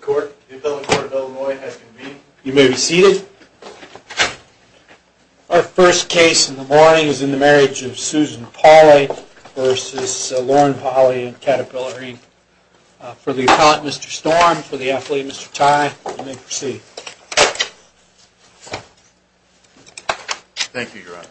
Court. You may be seated. Our first case in the morning is in the marriage of Susan Pauley versus Lauren Pauley and Caterpillar. For the account, Mr Storm for the athlete, Mr Ty, you may proceed. Thank you, Your Honor.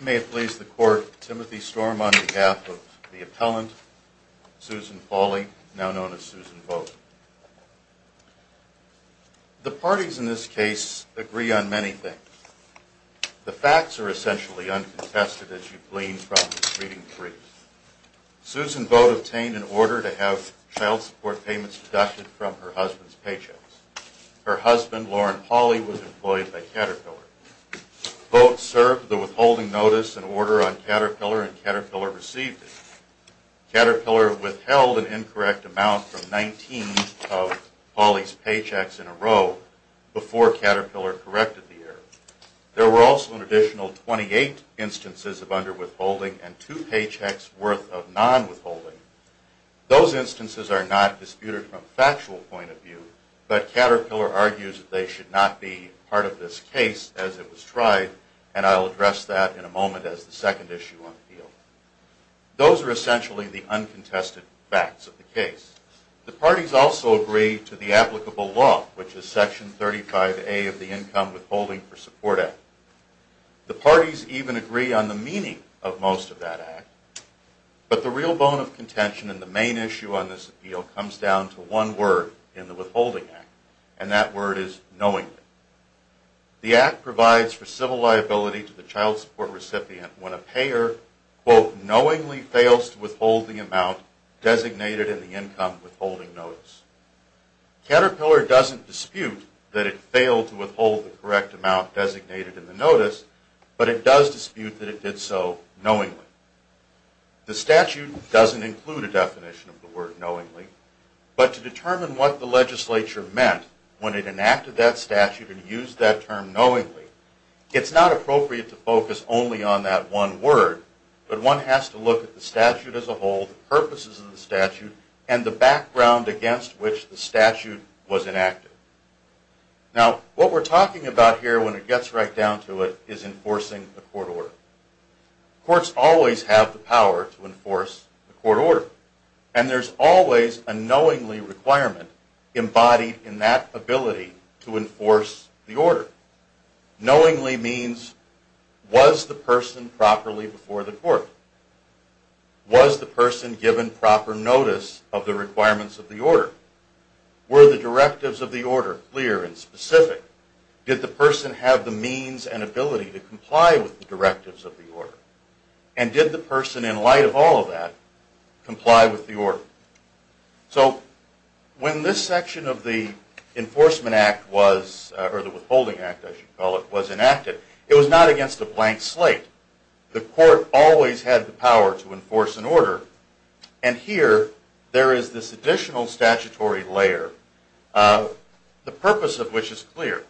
May it please the court, Timothy Storm on behalf of the appellant, Susan Pauley, now known as Susan Vogt. The parties in this case agree on many things. The facts are essentially uncontested as you glean from reading three. Susan Vogt obtained an order to have child support payments deducted from her husband's paycheck. Her husband, Lauren Pauley, was employed by the withholding notice and order on Caterpillar and Caterpillar received it. Caterpillar withheld an incorrect amount from 19 of Pauley's paychecks in a row before Caterpillar corrected the error. There were also an additional 28 instances of under withholding and two paychecks worth of non withholding. Those instances are not disputed from factual point of view, but Caterpillar argues that they should not be part of this case as it was tried, and I'll address that in a moment as the second issue on the field. Those are essentially the uncontested facts of the case. The parties also agree to the applicable law, which is Section 35A of the Income Withholding for Support Act. The parties even agree on the meaning of most of that act. But the real bone of contention in the main issue on this appeal comes down to one word in the Withholding Act, and that word is knowingly. The act provides for civil liability to the child support recipient when a payer, quote, knowingly fails to withhold the amount designated in the income withholding notice. Caterpillar doesn't dispute that it failed to withhold the correct amount designated in the notice, but it does dispute that it did so knowingly. The statute doesn't include a definition of the word knowingly, but to determine what the legislature meant when it enacted that statute and used that term knowingly, it's not appropriate to focus only on that one word, but one has to look at the statute as a whole, the purposes of the statute, and the background against which the statute was enacted. Now, what we're talking about here when it gets right down to it is enforcing the court order. Courts always have the power to enforce the court order, and there's always a knowingly requirement embodied in that ability to enforce the order. Knowingly means was the person properly before the court? Was the person given proper notice of the requirements of the order? Were the directives of the order clear and specific? Did the person have the means and ability to comply with the directives of the order? And did the person, in light of all of that, comply with the order? So when this section of the Enforcement Act was, or the Withholding Act, I should call it, was enacted, it was not against a blank slate. The court always had the power to enforce an order, and here there is this additional statutory layer, the purpose of which is clear,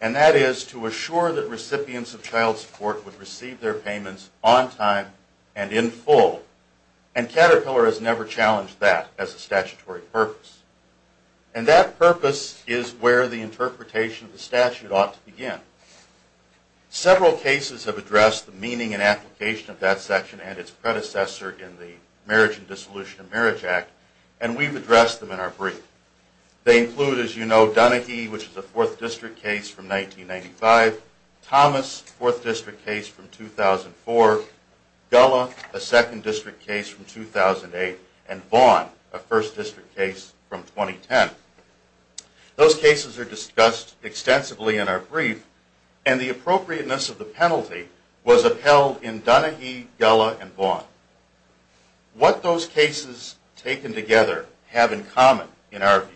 and that is to assure that recipients of child support would receive their has never challenged that as a statutory purpose. And that purpose is where the interpretation of the statute ought to begin. Several cases have addressed the meaning and application of that section and its predecessor in the Marriage and Dissolution of Marriage Act, and we've addressed them in our brief. They include, as you know, Dunahee, which is a Fourth District case from 1995, Thomas, Fourth District case from 2004, Gullah, a Second District case from 2008, and Vaughn, a First District case from 2010. Those cases are discussed extensively in our brief, and the appropriateness of the penalty was upheld in Dunahee, Gullah, and Vaughn. What those cases taken together have in common, in our view,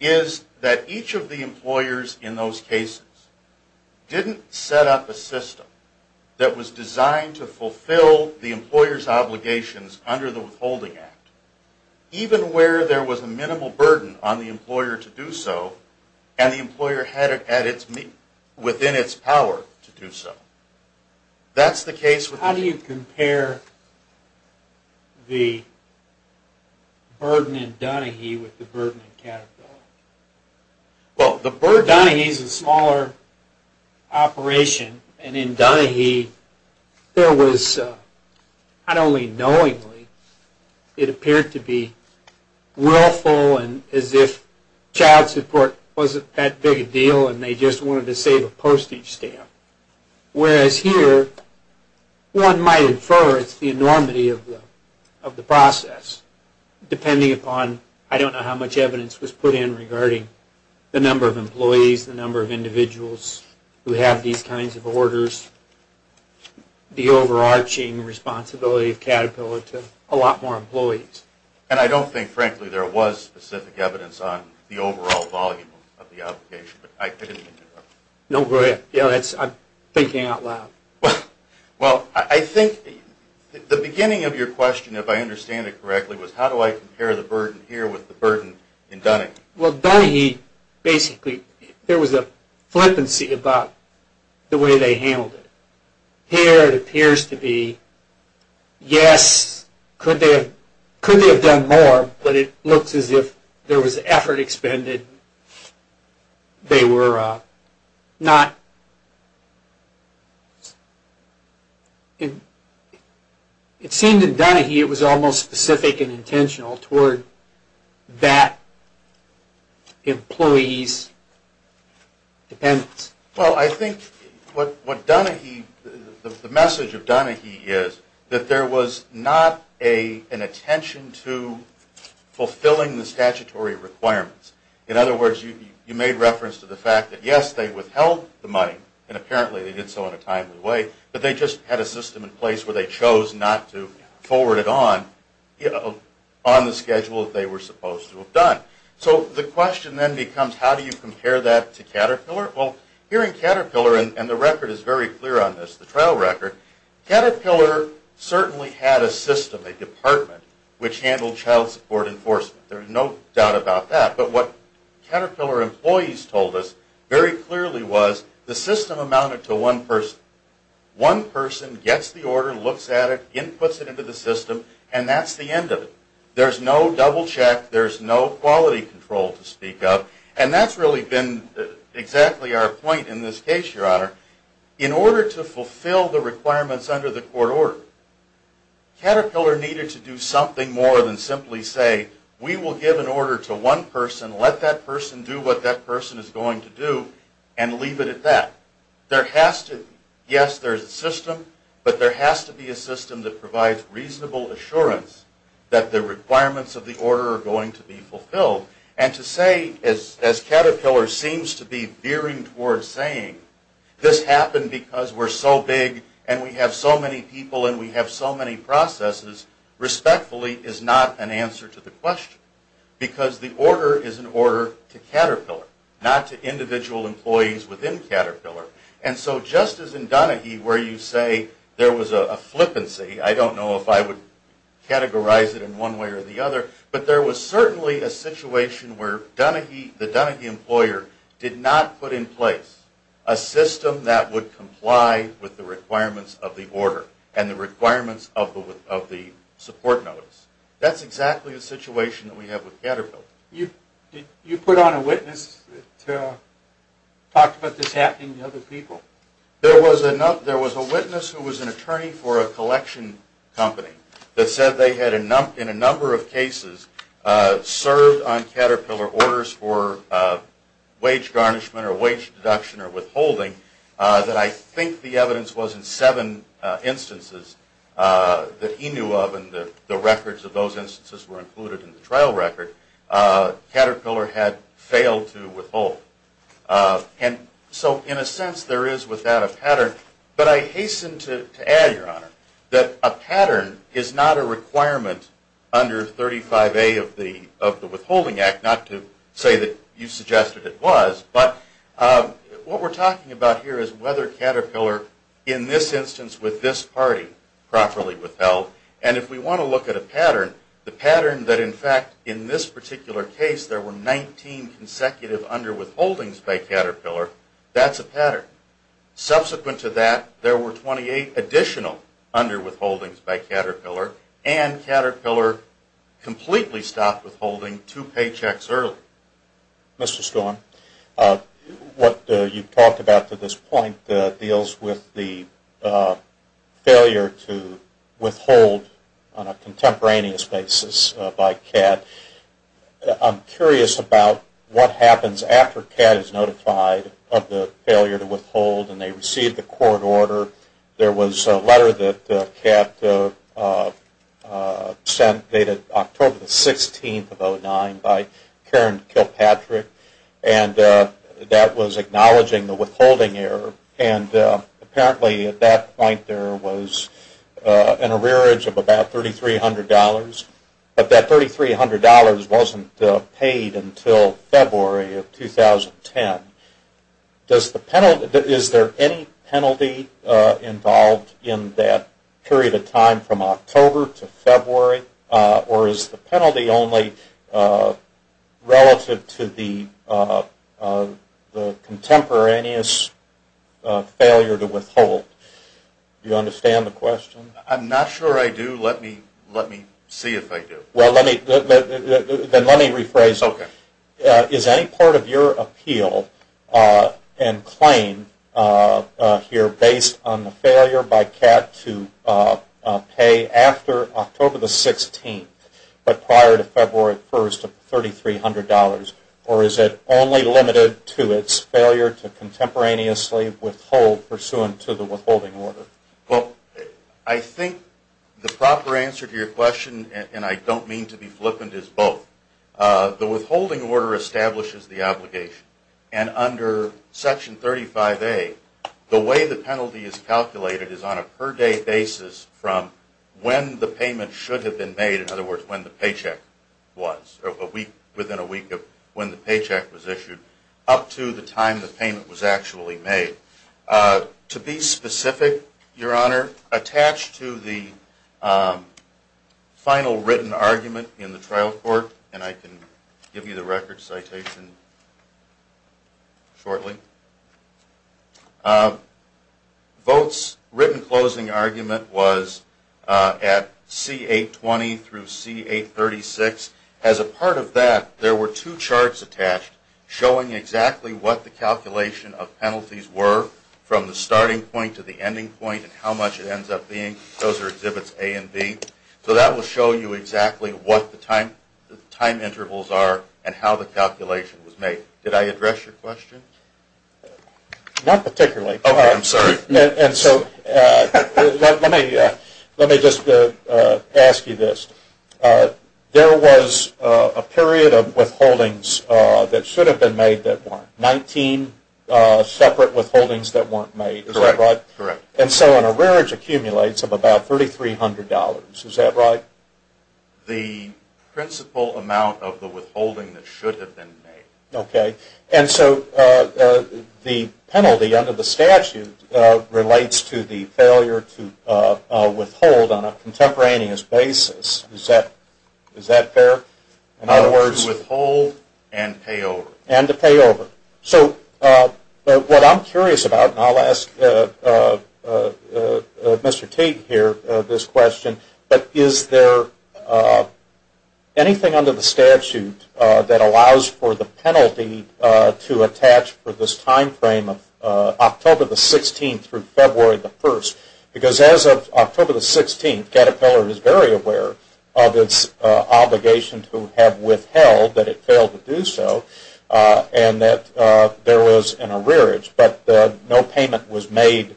is that each of the employers in those cases didn't set up a system that was designed to fulfill the employer's withholding act, even where there was a minimal burden on the employer to do so, and the employer had it within its power to do so. That's the case with How do you compare the burden in Dunahee with the burden in Caterpillar? Well, Dunahee is a smaller operation, and in Dunahee, there was not only a minimum burden, but knowingly, it appeared to be willful, and as if child support wasn't that big a deal, and they just wanted to save a postage stamp. Whereas here, one might infer it's the enormity of the process, depending upon, I don't know how much evidence was put in regarding the number of employees, the number of individuals who have these kinds of orders, the overarching responsibility of Caterpillar to a lot more employees. And I don't think, frankly, there was specific evidence on the overall volume of the obligation, but I didn't mean to interrupt. No, go ahead. I'm thinking out loud. Well, I think the beginning of your question, if I understand it correctly, was how do I compare the burden here with the burden in Dunahee? Well, Dunahee, basically, there was a flippancy about the way they handled it. Here, it appears to be, yes, could they have done more, but it looks as if there was effort expended. They were not, it seemed in Dunahee, it was almost specific and intentional toward that employee's dependence. Well, I think what Dunahee, the message of Dunahee is that there was not an attention to fulfilling the statutory requirements. In other words, you made reference to the fact that, yes, they withheld the money, and apparently they did so in a timely way, but they just had a system in place where they chose not to forward it on, on the schedule that they were supposed to have done. So the question then becomes, how do you compare that to Caterpillar? Well, here in Caterpillar, and the record is very clear on this, the trial record, Caterpillar certainly had a system, a department, which handled child support enforcement. There's no doubt about that, but what Caterpillar employees told us very clearly was the system amounted to one person. One person gets the order, looks at it, inputs it into the system, and that's the end of it. There's no double check, there's no quality control to speak of, and that's really been exactly our point in this case, Your Honor. In order to fulfill the requirements under the court order, Caterpillar needed to do something more than simply say, we will give an order to one person, let that person do what that person is going to do, and leave it at that. There has to, yes, there's a system, but there has to be a system that provides reasonable assurance that the requirements of the order are going to be fulfilled. And to say, as Caterpillar seems to be veering towards saying, this happened because we're so big, and we have so many people, and we have so many processes, respectfully is not an answer to the question, because the order is an order to Caterpillar, not to individual employees within Caterpillar. And so just as in Dunahee, where you say there was a flippancy, I don't know if I would categorize it in one way or the other, but there was certainly a situation where the Dunahee employer did not put in place a system that would comply with the requirements of the order and the requirements of the support notice. That's exactly the situation that we have with Caterpillar. You put on a witness that talked about this happening to other people? There was a witness who was an attorney for a collection company that said they had, in a number of cases, served on Caterpillar orders for wage garnishment or wage deduction or withholding that I think the evidence was in seven instances that he knew of, and the records of those instances were included in the trial record, Caterpillar had failed to withhold. And so in a sense, there is with that a pattern. But I hasten to add, Your Honor, that a pattern is not a requirement under 35A of the Withholding Act, not to say that you suggested it was, but what we're talking about here is whether Caterpillar, in this instance with this party, properly withheld. And if we want to look at a pattern, the pattern that, in fact, in this particular case there were 19 consecutive underwithholdings by Caterpillar, that's a pattern. Subsequent to that, there were 28 additional underwithholdings by Caterpillar, and Caterpillar completely stopped withholding two paychecks early. Mr. Storm, what you've talked about to this point deals with the failure to withhold on a contemporaneous basis by CAD. I'm curious about what happens after CAD is notified of the failure to withhold and they receive the court order. There was a letter that CAD sent dated October 16th of 2009 by Karen Kilpatrick, and that was acknowledging the withholding error. And apparently at that point there was an arrearage of about $3,300, but that $3,300 wasn't paid until February of 2010. Does the penalty, is there any penalty involved in that period of time from October to February, or is the penalty only relative to the contemporaneous failure to withhold? Do you understand the question? I'm not sure I do. Let me see if I do. Well, let me, then let me rephrase. Okay. Is any part of your appeal and claim here based on the failure by CAD to pay after October the 16th, but prior to February 1st of $3,300, or is it only limited to its failure to contemporaneously withhold pursuant to the withholding order? Well, I think the proper answer to your question, and I don't mean to be both, the withholding order establishes the obligation. And under Section 35A, the way the penalty is calculated is on a per day basis from when the payment should have been made, in other words, when the paycheck was, or within a week of when the paycheck was issued, up to the time the payment was actually made. To be specific, Your Honor, attached to the final written argument in the trial court, and I can give you the record citation shortly, votes' written closing argument was at C820 through C836. As a part of that, there were two charts attached showing exactly what the calculation of penalties were from the starting point to the ending point and how much it ends up being. Those are Exhibits A and B. So that will show you exactly what the time intervals are and how the calculation was made. Did I address your question? Not particularly. Okay, I'm sorry. And so let me just ask you this. There was a period of withholdings that should have been made that weren't. Nineteen separate withholdings that weren't made, is that right? Correct. And so an arrearage accumulates of about $3,300, is that right? The principal amount of the withholding that should have been made. Okay. And so the penalty under the statute relates to the failure to withhold on a contemporaneous basis. Is that fair? In other words, withhold and pay over. And to pay over. So what I'm curious about, and I'll ask Mr. Tate here this question, but is there anything under the statute that allows for the penalty to attach for this time frame of October the 16th through February the 1st? Because as of October the 16th, Caterpillar is very aware of its obligation to have withheld, that it failed to do so, and that there was an arrearage. But no payment was made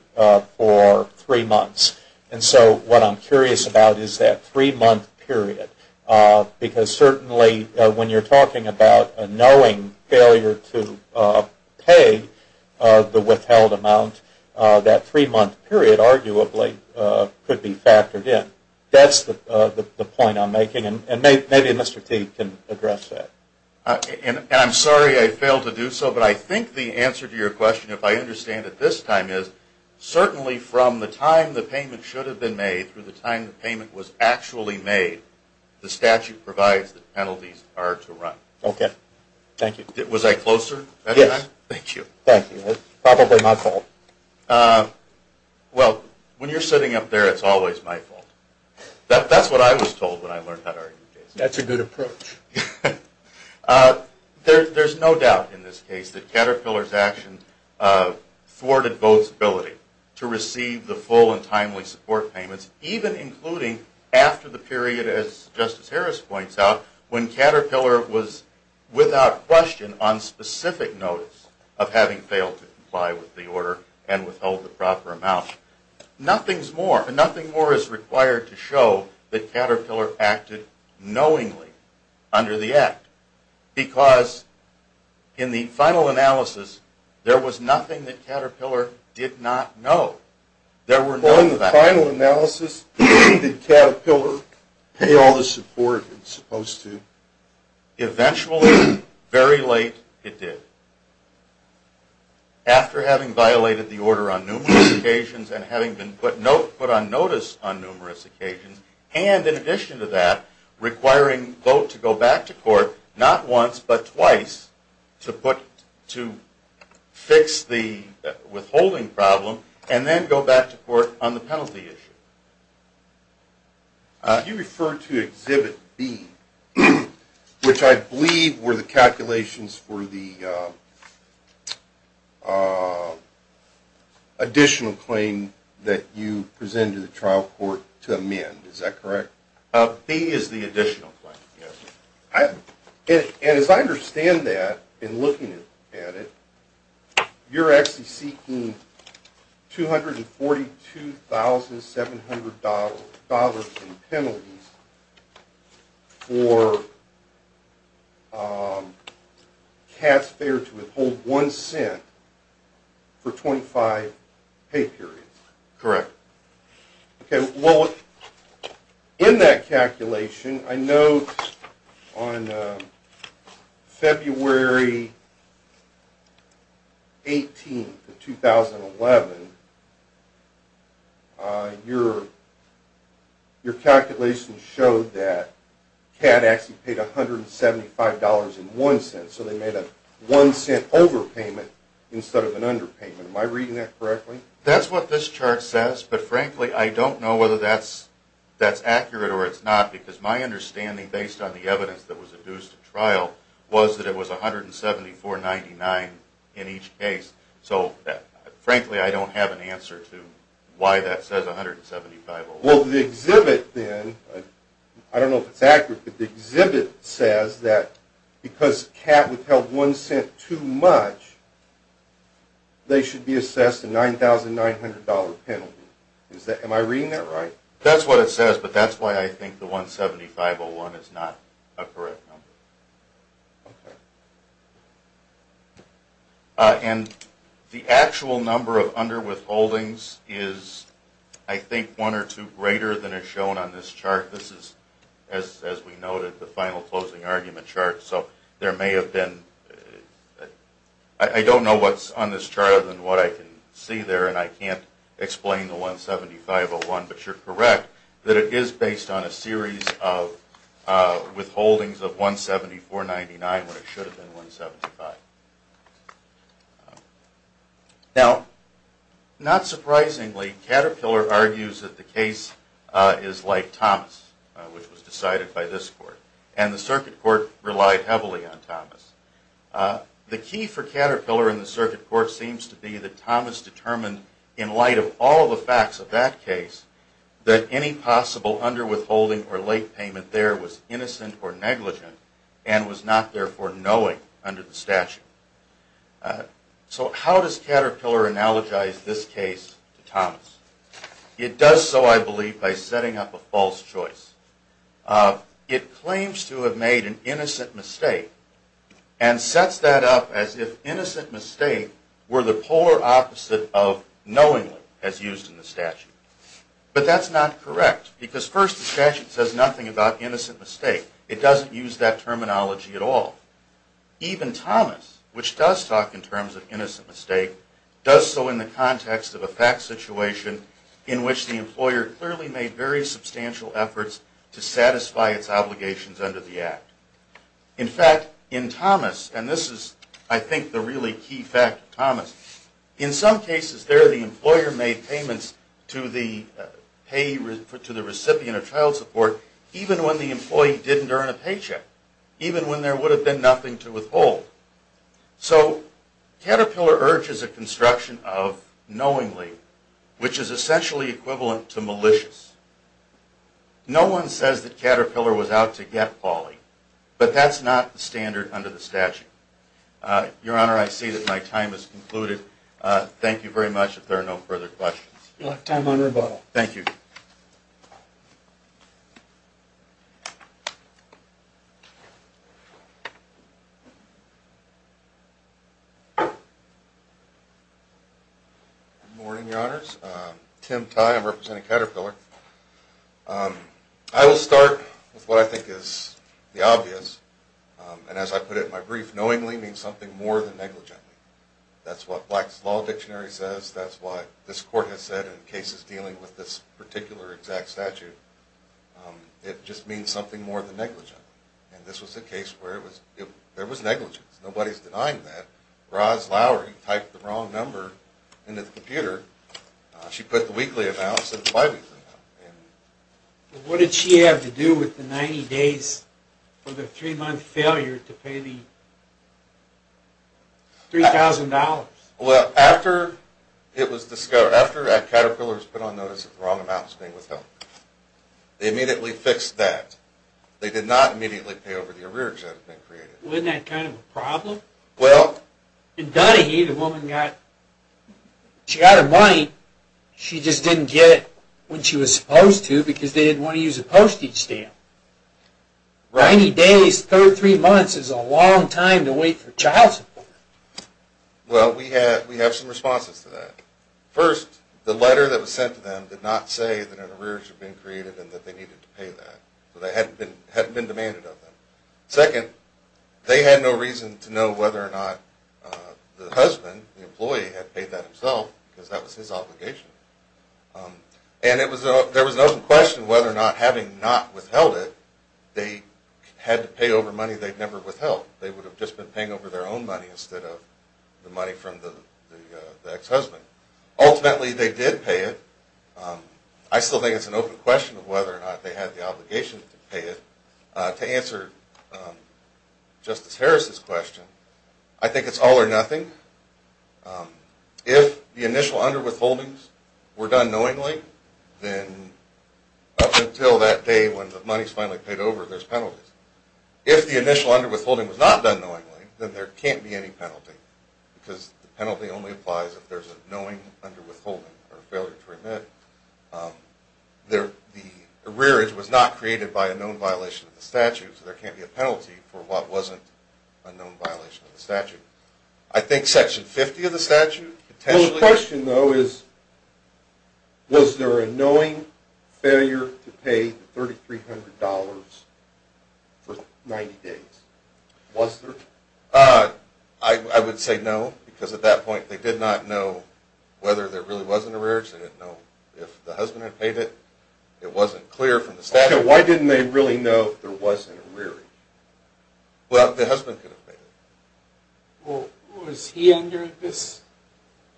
for three months. And so what I'm curious about is that three-month period. Because certainly when you're talking about a knowing failure to pay the withheld amount, that three-month period arguably could be factored in. That's the point I'm making. And maybe Mr. Tate can address that. And I'm sorry I failed to do so, but I think the answer to your question, if I understand it this time, is certainly from the time the payment should have been made through the time the payment was actually made, the statute provides that penalties are to run. Okay. Thank you. Was I closer? Yes. Thank you. Thank you. It's probably my fault. Well, when you're sitting up there, it's always my fault. That's what I was told when I learned how to argue cases. That's a good approach. There's no doubt in this case that Caterpillar's action thwarted both's ability to receive the full and timely support payments, even including after the period, as Justice Harris points out, when Caterpillar was without question on specific notice of having failed to comply with the order and withheld the proper amount. Nothing more is required to show that Caterpillar acted knowingly under the act, because in the final analysis, there was nothing that Caterpillar did not know. In the final analysis, did Caterpillar pay all the support it was supposed to? Eventually, very late, it did. After having violated the order on numerous occasions and having been put on notice on numerous occasions, and in addition to that, requiring both to go back to court, not once, but twice, to fix the withholding problem and then go back to court on the penalty issue. You referred to Exhibit B, which I believe were the calculations for the additional claim that you presented to the trial court to amend. Is that correct? B is the additional claim, yes. And as I understand that, in looking at it, you're actually seeking $242,700 dollars in penalties for Cass Fair to withhold one cent for 25 pay periods. Correct. Okay, well, in that calculation, I know on February 18th of 2011, your calculations showed that CAD actually paid $175.01, so they made a one cent overpayment instead of an underpayment. Am I reading that correctly? That's what this chart says, but frankly, I don't know whether that's accurate or it's not, because my understanding, based on the evidence that was adduced at trial, was that it was $174.99 in each case. So frankly, I don't have an answer to why that says $175.01. Well, the exhibit then, I don't know if it's accurate, but the exhibit says that because CAD withheld one cent too much, they should be assessed a $9,900 penalty. Am I reading that right? That's what it says, but that's why I think the $175.01 is not a correct number. And the actual number of underwithholdings is, I think, one or two greater than is shown on this chart. This is, as we noted, the final closing argument chart. So there may have been, I don't know what's on this chart other than what I can see there, and I can't explain the $175.01, but you're correct that it is based on a series of withholdings of $174.99 when it should have been $175. Now, not surprisingly, Caterpillar argues that the case is like Thomas, which was decided by this court, and the circuit court relied heavily on Thomas. The key for Caterpillar in the circuit court seems to be that Thomas determined, in light of all the facts of that case, that any possible underwithholding or late payment there was innocent or negligent and was not therefore knowing under the statute. So how does Caterpillar analogize this case to Thomas? It does so, I believe, by setting up a false choice. It claims to have made an innocent mistake and sets that up as if innocent mistake were the polar opposite of knowingly, as used in the statute. But that's not correct, because first the statute says nothing about innocent mistake. It doesn't use that terminology at all. Even Thomas, which does talk in terms of innocent mistake, does so in the context of a fact situation in which the employer clearly made very substantial efforts to satisfy its obligations under the act. In fact, in Thomas, and this is, I think, the really key fact of Thomas, in some cases there the employer made payments to the recipient of child care, even during a paycheck, even when there would have been nothing to withhold. So Caterpillar urges a construction of knowingly, which is essentially equivalent to malicious. No one says that Caterpillar was out to get Pauli, but that's not the standard under the statute. Your Honor, I see that my time has concluded. Thank you very much. If there are no further questions. You have time on rebuttal. Thank you. Good morning, Your Honors. Tim Tye, I'm representing Caterpillar. I will start with what I think is the obvious, and as I put it in my brief, knowingly means something more than negligently. That's what Black's Law Dictionary says. That's what this court has said in cases dealing with this particular exact statute. It just means something more than negligently. And this was the case where there was negligence. Nobody's denying that. Roz Lowery typed the wrong number into the computer. She put the weekly amount instead of the five-weekly amount. What did she have to do with the 90 days for the three-month failure to pay the $3,000? Well, after it was discovered, after Caterpillar's put on notice that the wrong amount was being withheld, they immediately fixed that. They did not immediately pay over the arrears that had been created. Wasn't that kind of a problem? Well, in Dunahee, the woman got her money. She just didn't get it when she was supposed to because they didn't want to use a postage stamp. 90 days, three months is a long time to wait for child support. Well, we have some responses to that. First, the letter that was sent to them did not say that an arrears had been created and that they needed to pay that. So they hadn't been demanded of them. Second, they had no reason to know whether or not the husband, the employee, had paid that himself because that was his obligation. And there was an open question whether or not having not withheld it, they had to pay over money they'd never withheld. They would have just been paying over their own money instead of the money from the ex-husband. Ultimately, they did pay it. I still think it's an open question of whether or not they had the obligation to pay it. To answer Justice Harris's question, I think it's all or nothing. If the initial underwithholdings were done knowingly, then up until that day when the money's finally paid over, there's penalties. If the initial underwithholding was not done knowingly, then there can't be any penalty because the penalty only applies if there's a knowing underwithholding or failure to remit. The arrears was not created by a known violation of the statute, so there can't be a penalty for what wasn't a known violation of the statute. I think Section 50 of the statute potentially- Well, the question, though, is was there a knowing failure to pay the $3,300 for 90 days? Was there? I would say no, because at that point, they did not know whether there really was an arrearage. They didn't know if the husband had paid it. It wasn't clear from the statute. Why didn't they really know if there was an arrearage? Well, the husband could have paid it. Well, was he under this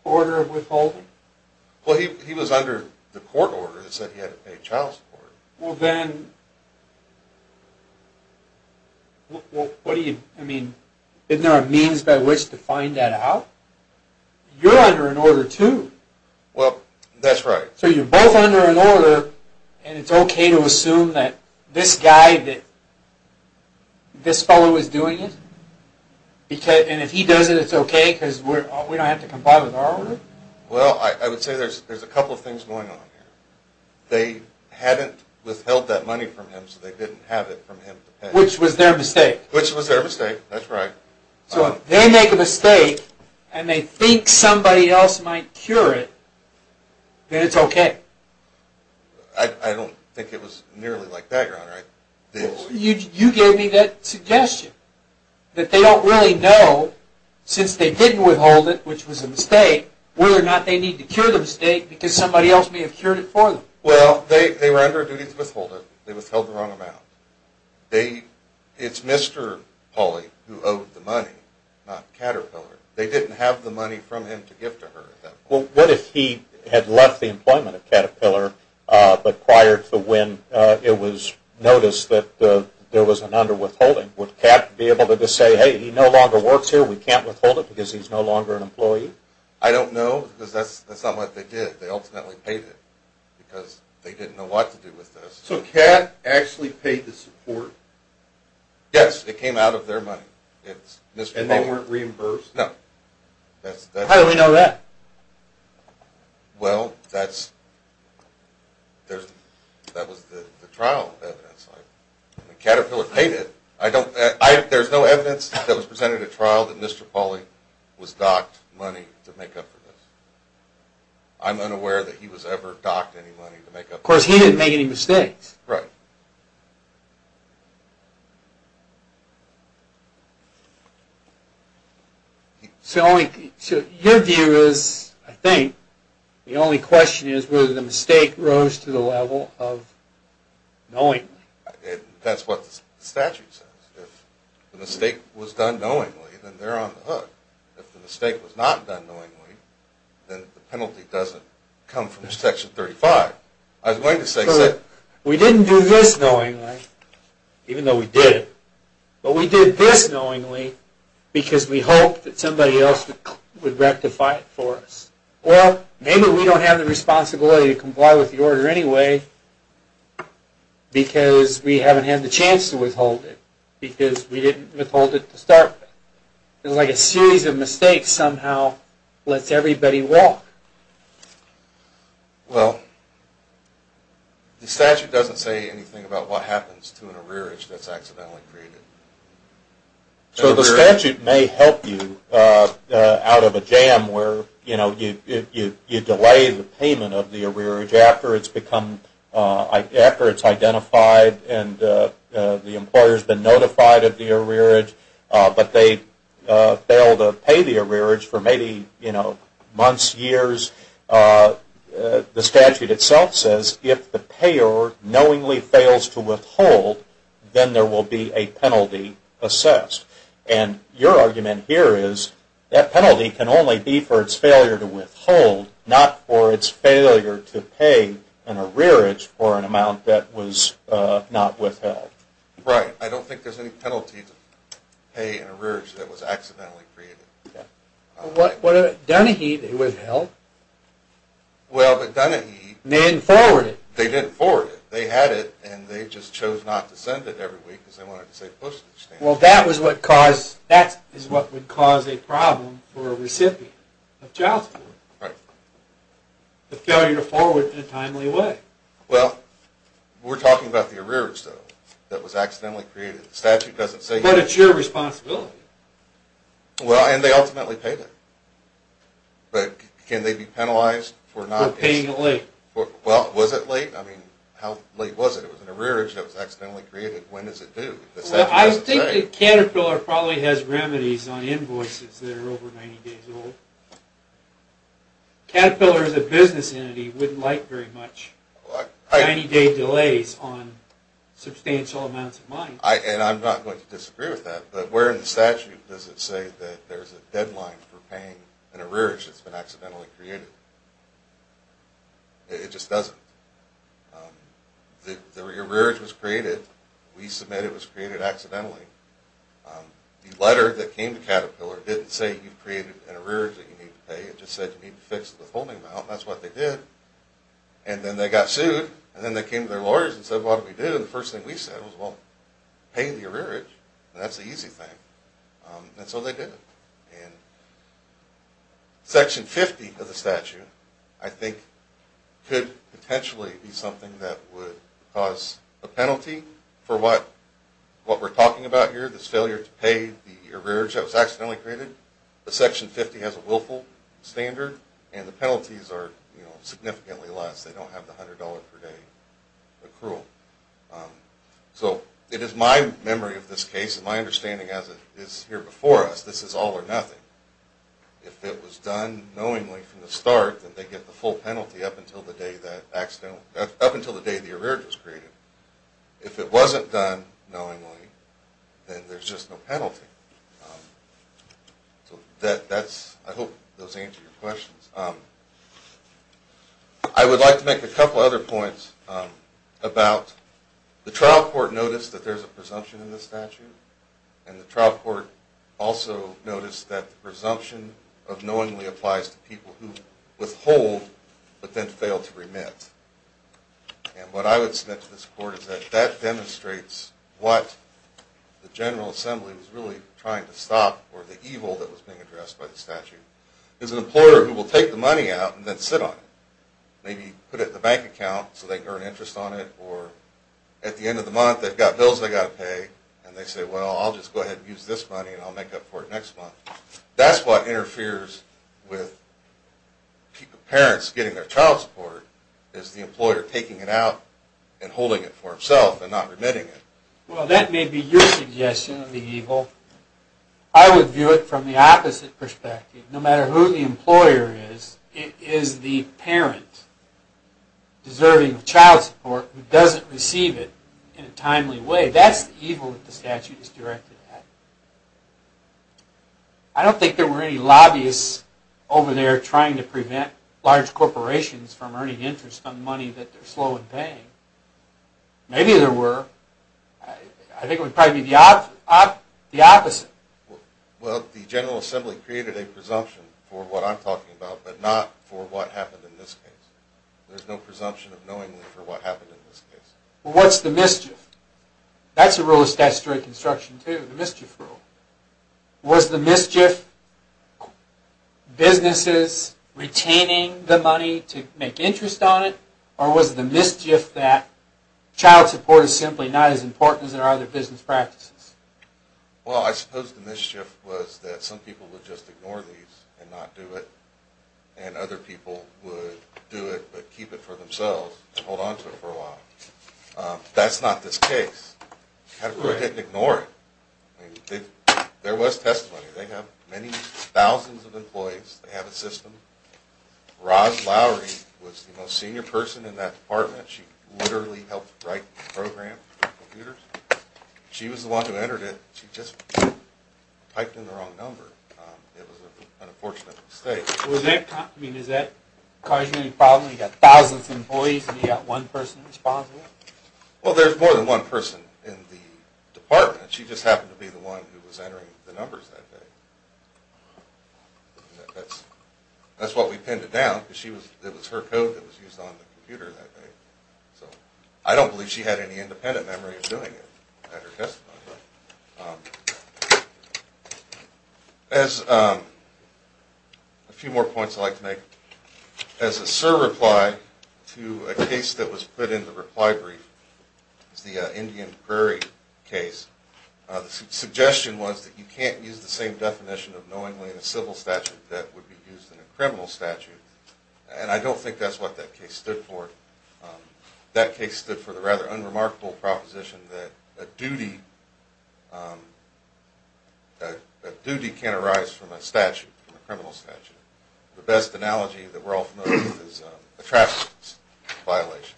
order of withholding? Well, he was under the court order that said he had to pay child support. Well, then, isn't there a means by which to find that out? You're under an order, too. Well, that's right. So you're both under an order, and it's OK to assume that this guy, this fellow is doing it? And if he does it, it's OK because we don't have to comply with our order? Well, I would say there's a couple of things going on here. They hadn't withheld that money from him, so they didn't have it from him to pay. Which was their mistake. Which was their mistake. That's right. So if they make a mistake, and they think somebody else might cure it, then it's OK. I don't think it was nearly like that, Your Honor. You gave me that suggestion, that they don't really know, since they didn't withhold it, which was a mistake, whether or not they need to cure the mistake because somebody else may have cured it for them. Well, they were under a duty to withhold it. They withheld the wrong amount. It's Mr. Pauly who owed the money, not Caterpillar. They didn't have the money from him to give to her at that point. Well, what if he had left the employment at Caterpillar, but prior to when it was noticed that there was an underwithholding, would Cat be able to just say, hey, he no longer works here. We can't withhold it because he's no longer an employee? I don't know, because that's not what they did. They ultimately paid it, because they didn't know what to do with this. So Cat actually paid the support? Yes, it came out of their money. And they weren't reimbursed? No. How do we know that? Well, that was the trial evidence. Caterpillar paid it. There's no evidence that was presented at trial that Mr. Pauly was docked money to make up for this. I'm unaware that he was ever docked any money to make up for this. Of course, he didn't make any mistakes. Right. So your view is, I think, the only question is whether the mistake rose to the level of knowingly. That's what the statute says. If the mistake was done knowingly, then they're on the hook. If the mistake was not done knowingly, then the penalty doesn't come from Section 35. I was going to say that. We didn't do this knowingly, even though we did it. But we did this knowingly, because we hoped that somebody else would rectify it for us. Well, maybe we don't have the responsibility to comply with the order anyway, because we haven't had the chance to withhold it, because we didn't withhold it to start with. It's like a series of mistakes somehow lets everybody walk. Well, the statute doesn't say anything about what happens to an arrearage that's accidentally created. So the statute may help you out of a jam where you delay the payment of the arrearage after it's identified and the employer's been notified of the arrearage, but they fail to pay the arrearage for maybe months, years. The statute itself says if the payer knowingly fails to withhold, then there will be a penalty assessed. And your argument here is that penalty can only be for its failure to withhold, not for its failure to pay an arrearage for an amount that was not withheld. Right. I don't think there's any penalty to pay an arrearage that was accidentally created. Dunahee, they withheld. Well, but Dunahee. They didn't forward it. They didn't forward it. They had it, and they just chose not to send it every week, because they wanted to save postage stamps. Well, that is what would cause a problem for a recipient of child support. Right. The failure to forward in a timely way. Well, we're talking about the arrearage, though, that was accidentally created. The statute doesn't say that. But it's your responsibility. Well, and they ultimately paid it. But can they be penalized for not paying it late? Well, was it late? I mean, how late was it? It was an arrearage that was accidentally created. When is it due? I think the Caterpillar probably has remedies on invoices that are over 90 days old. Caterpillar is a business entity. Wouldn't like very much 90-day delays on substantial amounts of money. And I'm not going to disagree with that. But where in the statute does it say that there is a deadline for paying an arrearage that's been accidentally created? It just doesn't. The arrearage was created. We submit it was created accidentally. The letter that came to Caterpillar didn't say you've created an arrearage that you need to pay. It just said you need to fix the withholding amount. And that's what they did. And then they got sued. And then they came to their lawyers and said, what did we do? And the first thing we said was, well, pay the arrearage. And that's the easy thing. And so they did. And Section 50 of the statute, I think, could potentially be something that would cause a penalty for what we're talking about here, this failure to pay the arrearage that was accidentally created. But Section 50 has a willful standard. And the penalties are significantly less. They don't have the $100 per day accrual. So it is my memory of this case, and my understanding as it is here before us, this is all or nothing. If it was done knowingly from the start, then they get the full penalty up until the day that accidentally, up until the day the arrearage was created. If it wasn't done knowingly, then there's just no penalty. So that's, I hope, those answer your questions. I would like to make a couple other points about the trial court notice that there's a presumption in the statute. And the trial court also noticed that the presumption of knowingly applies to people who withhold, but then fail to remit. And what I would submit to this court is that that demonstrates what the General Assembly was really trying to stop, or the evil that was being addressed by the statute. There's an employer who will take the money out and then sit on it. Maybe put it in the bank account so they can earn interest on it. Or at the end of the month, they've got bills they've got to pay. And they say, well, I'll just go ahead and use this money, and I'll make up for it next month. That's what interferes with parents getting their child supported, is the employer taking it out and holding it for himself and not remitting it. Well, that may be your suggestion of the evil. I would view it from the opposite perspective. No matter who the employer is, it is the parent deserving of child support who doesn't receive it in a timely way. That's the evil that the statute is directed at. I don't think there were any lobbyists over there trying to prevent large corporations from earning interest on money that they're slow in paying. Maybe there were. I think it would probably be the opposite. Well, the General Assembly created a presumption for what I'm talking about, but not for what happened in this case. There's no presumption of knowingly for what happened in this case. Well, what's the mischief? That's a rule of statutory construction, too, the mischief rule. Was the mischief businesses retaining the money to make interest on it? Or was it the mischief that child support is simply not as important as there are other business practices? Well, I suppose the mischief was that some people would just ignore these and not do it, and other people would do it but keep it for themselves and hold on to it for a while. That's not this case. How could they ignore it? There was testimony. They have many thousands of employees. They have a system. Roz Lowry was the most senior person in that department. She literally helped write the program for computers. She was the one who entered it. She just typed in the wrong number. It was an unfortunate mistake. I mean, is that causing any problem? You've got thousands of employees, and you've got one person responsible? Well, there's more than one person in the department. She just happened to be the one who was entering the numbers that day. That's why we pinned it down, because it was her code that was used on the computer that day. So I don't believe she had any independent memory of doing it at her testimony. A few more points I'd like to make. As a surreply to a case that was put in the reply brief, it's the Indian Prairie case. The suggestion was that you can't use the same definition of knowingly in a civil statute that would be used in a criminal statute. And I don't think that's what that case stood for. That case stood for the rather unremarkable proposition that a duty can arise from a statute, from a criminal statute. The best analogy that we're all familiar with is a traffic violation.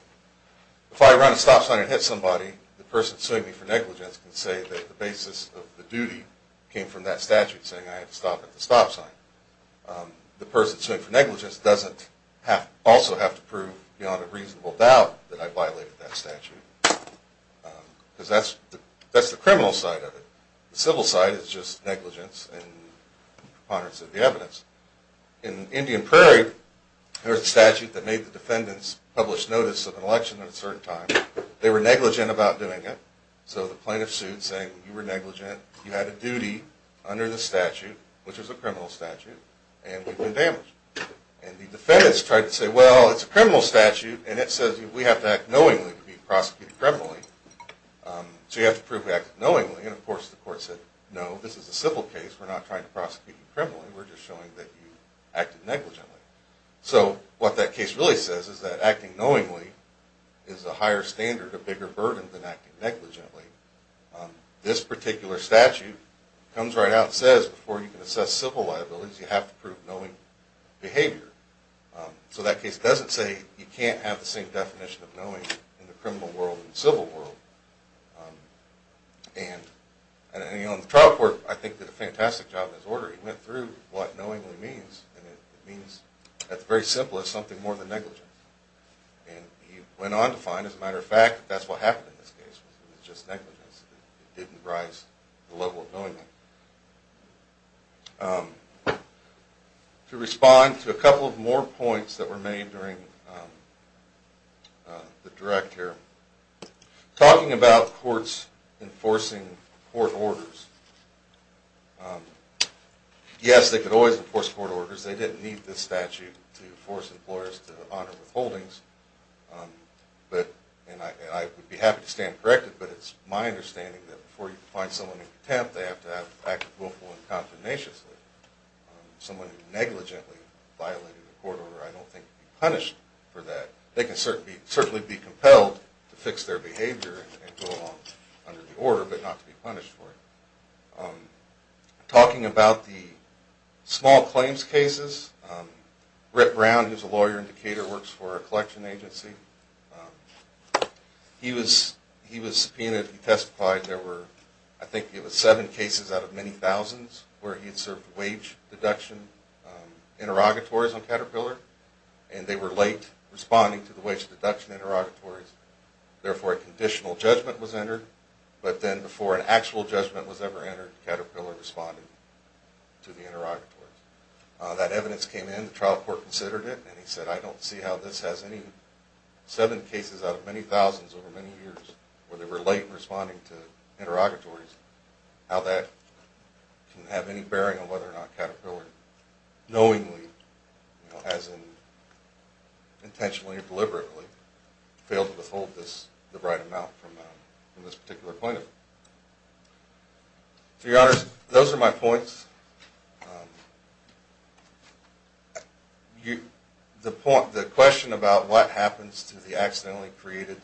If I run a stop sign and hit somebody, the person suing me for negligence can say that the basis of the duty came from that statute saying I had to stop at the stop sign. The person suing for negligence doesn't also have to prove beyond a reasonable doubt that I violated that statute, because that's the criminal side of it. The civil side is just negligence and preponderance of the evidence. In Indian Prairie, there was a statute that made the defendants publish notice of an election at a certain time. They were negligent about doing it. So the plaintiff sued, saying you were negligent. You had a duty under the statute, which is a criminal statute, and you've been damaged. And the defendants tried to say, well, it's a criminal statute, and it says we have to act knowingly to be prosecuted criminally. So you have to prove we acted knowingly. And of course, the court said, no, this is a civil case. We're not trying to prosecute you criminally. We're just showing that you acted negligently. So what that case really says is that acting knowingly is a higher standard, a bigger burden, than acting negligently. This particular statute comes right out and says before you can assess civil liabilities, you have to prove knowing behavior. So that case doesn't say you can't have the same definition of knowing in the criminal world and civil world. And he, on the trial court, I think did a fantastic job in his order. He went through what knowingly means. And it means, at the very simplest, something more than negligence. And he went on to find, as a matter of fact, that's what happened in this case. It was just negligence. It didn't rise to the level of knowingly. To respond to a couple of more points that were made during the direct here, talking about courts enforcing court orders. Yes, they could always enforce court orders. They didn't need this statute to force employers to honor withholdings. But I would be happy to stand corrected, but it's my understanding that before you can find someone in contempt, they have to act willful and confidentiously. Someone who negligently violated a court order, I don't think can be punished for that. They can certainly be compelled to fix their behavior and go along under the order, but not to be punished for it. Talking about the small claims cases, Brett Brown, who's a lawyer in Decatur, works for a collection agency. He was subpoenaed. He testified there were, I think it was seven cases out of many thousands, where he had served wage deduction interrogatories on Caterpillar. And they were late responding to the wage deduction interrogatories. Therefore, a conditional judgment was entered. But then before an actual judgment was ever entered, Caterpillar responded to the interrogatories. That evidence came in. The trial court considered it, and he said, I don't see how this has any seven cases out of many thousands over many years, where they were late in responding to interrogatories, how that can have any bearing on whether or not they intentionally or deliberately failed to withhold the right amount from this particular point of view. To your honors, those are my points. The question about what happens to the accidentally created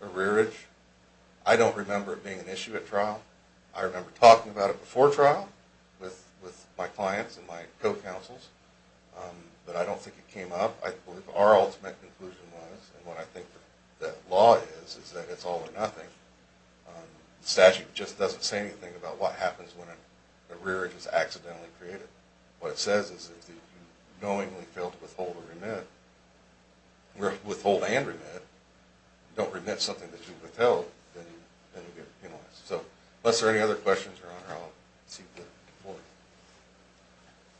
arrearage, I don't remember it being an issue at trial. I remember talking about it before trial with my clients and my co-counsels. But I don't think it came up. I believe our ultimate conclusion was, and what I think the law is, is that it's all or nothing. The statute just doesn't say anything about what happens when an arrearage is accidentally created. What it says is that if you knowingly fail to withhold and remit, don't remit something that you withheld, then you get penalized. So unless there are any other questions, your honor, I'll seek to move forward.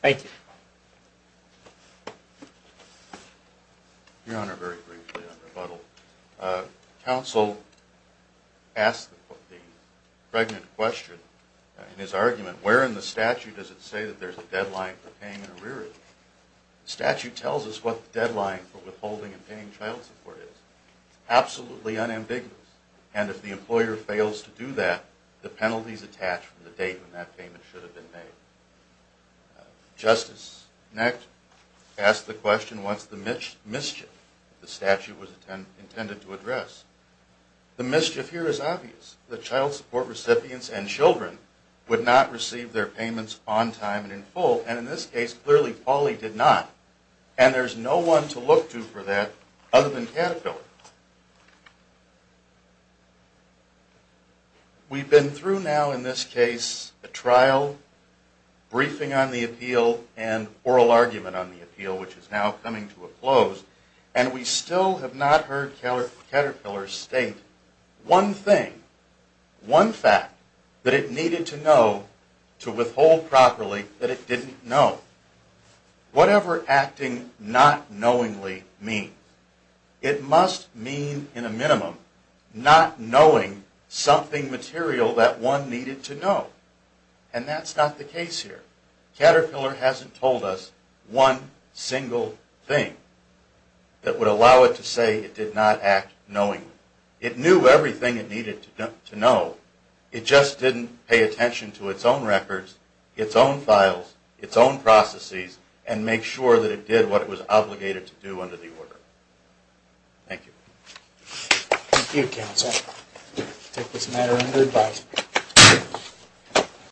Thank you. Your honor, very briefly on rebuttal. Counsel asked the pregnant question in his argument, where in the statute does it say that there's a deadline for paying an arrearage? Statute tells us what the deadline for withholding and paying child support is. Absolutely unambiguous. And if the employer fails to do that, the penalties attach from the date when that payment should have been made. Justice Necht asked the question, what's the mischief? The statute was intended to address. The mischief here is obvious. The child support recipients and children would not receive their payments on time and in full. And in this case, clearly, Pauli did not. And there's no one to look to for that other than Caterpillar. We've been through now, in this case, a trial, briefing on the appeal, and oral argument on the appeal, which is now coming to a close. And we still have not heard Caterpillar state one thing, one fact that it needed to know to withhold properly that it didn't know. Whatever acting not knowingly means, it must mean, in a minimum, not knowing something material that one needed to know. And that's not the case here. Caterpillar hasn't told us one single thing that would allow it to say it did not act knowingly. It knew everything it needed to know. It just didn't pay attention to its own records, its own files, its own processes, and make sure that it did what it was obligated to do under the order. Thank you. Thank you, counsel. I take this matter under advice.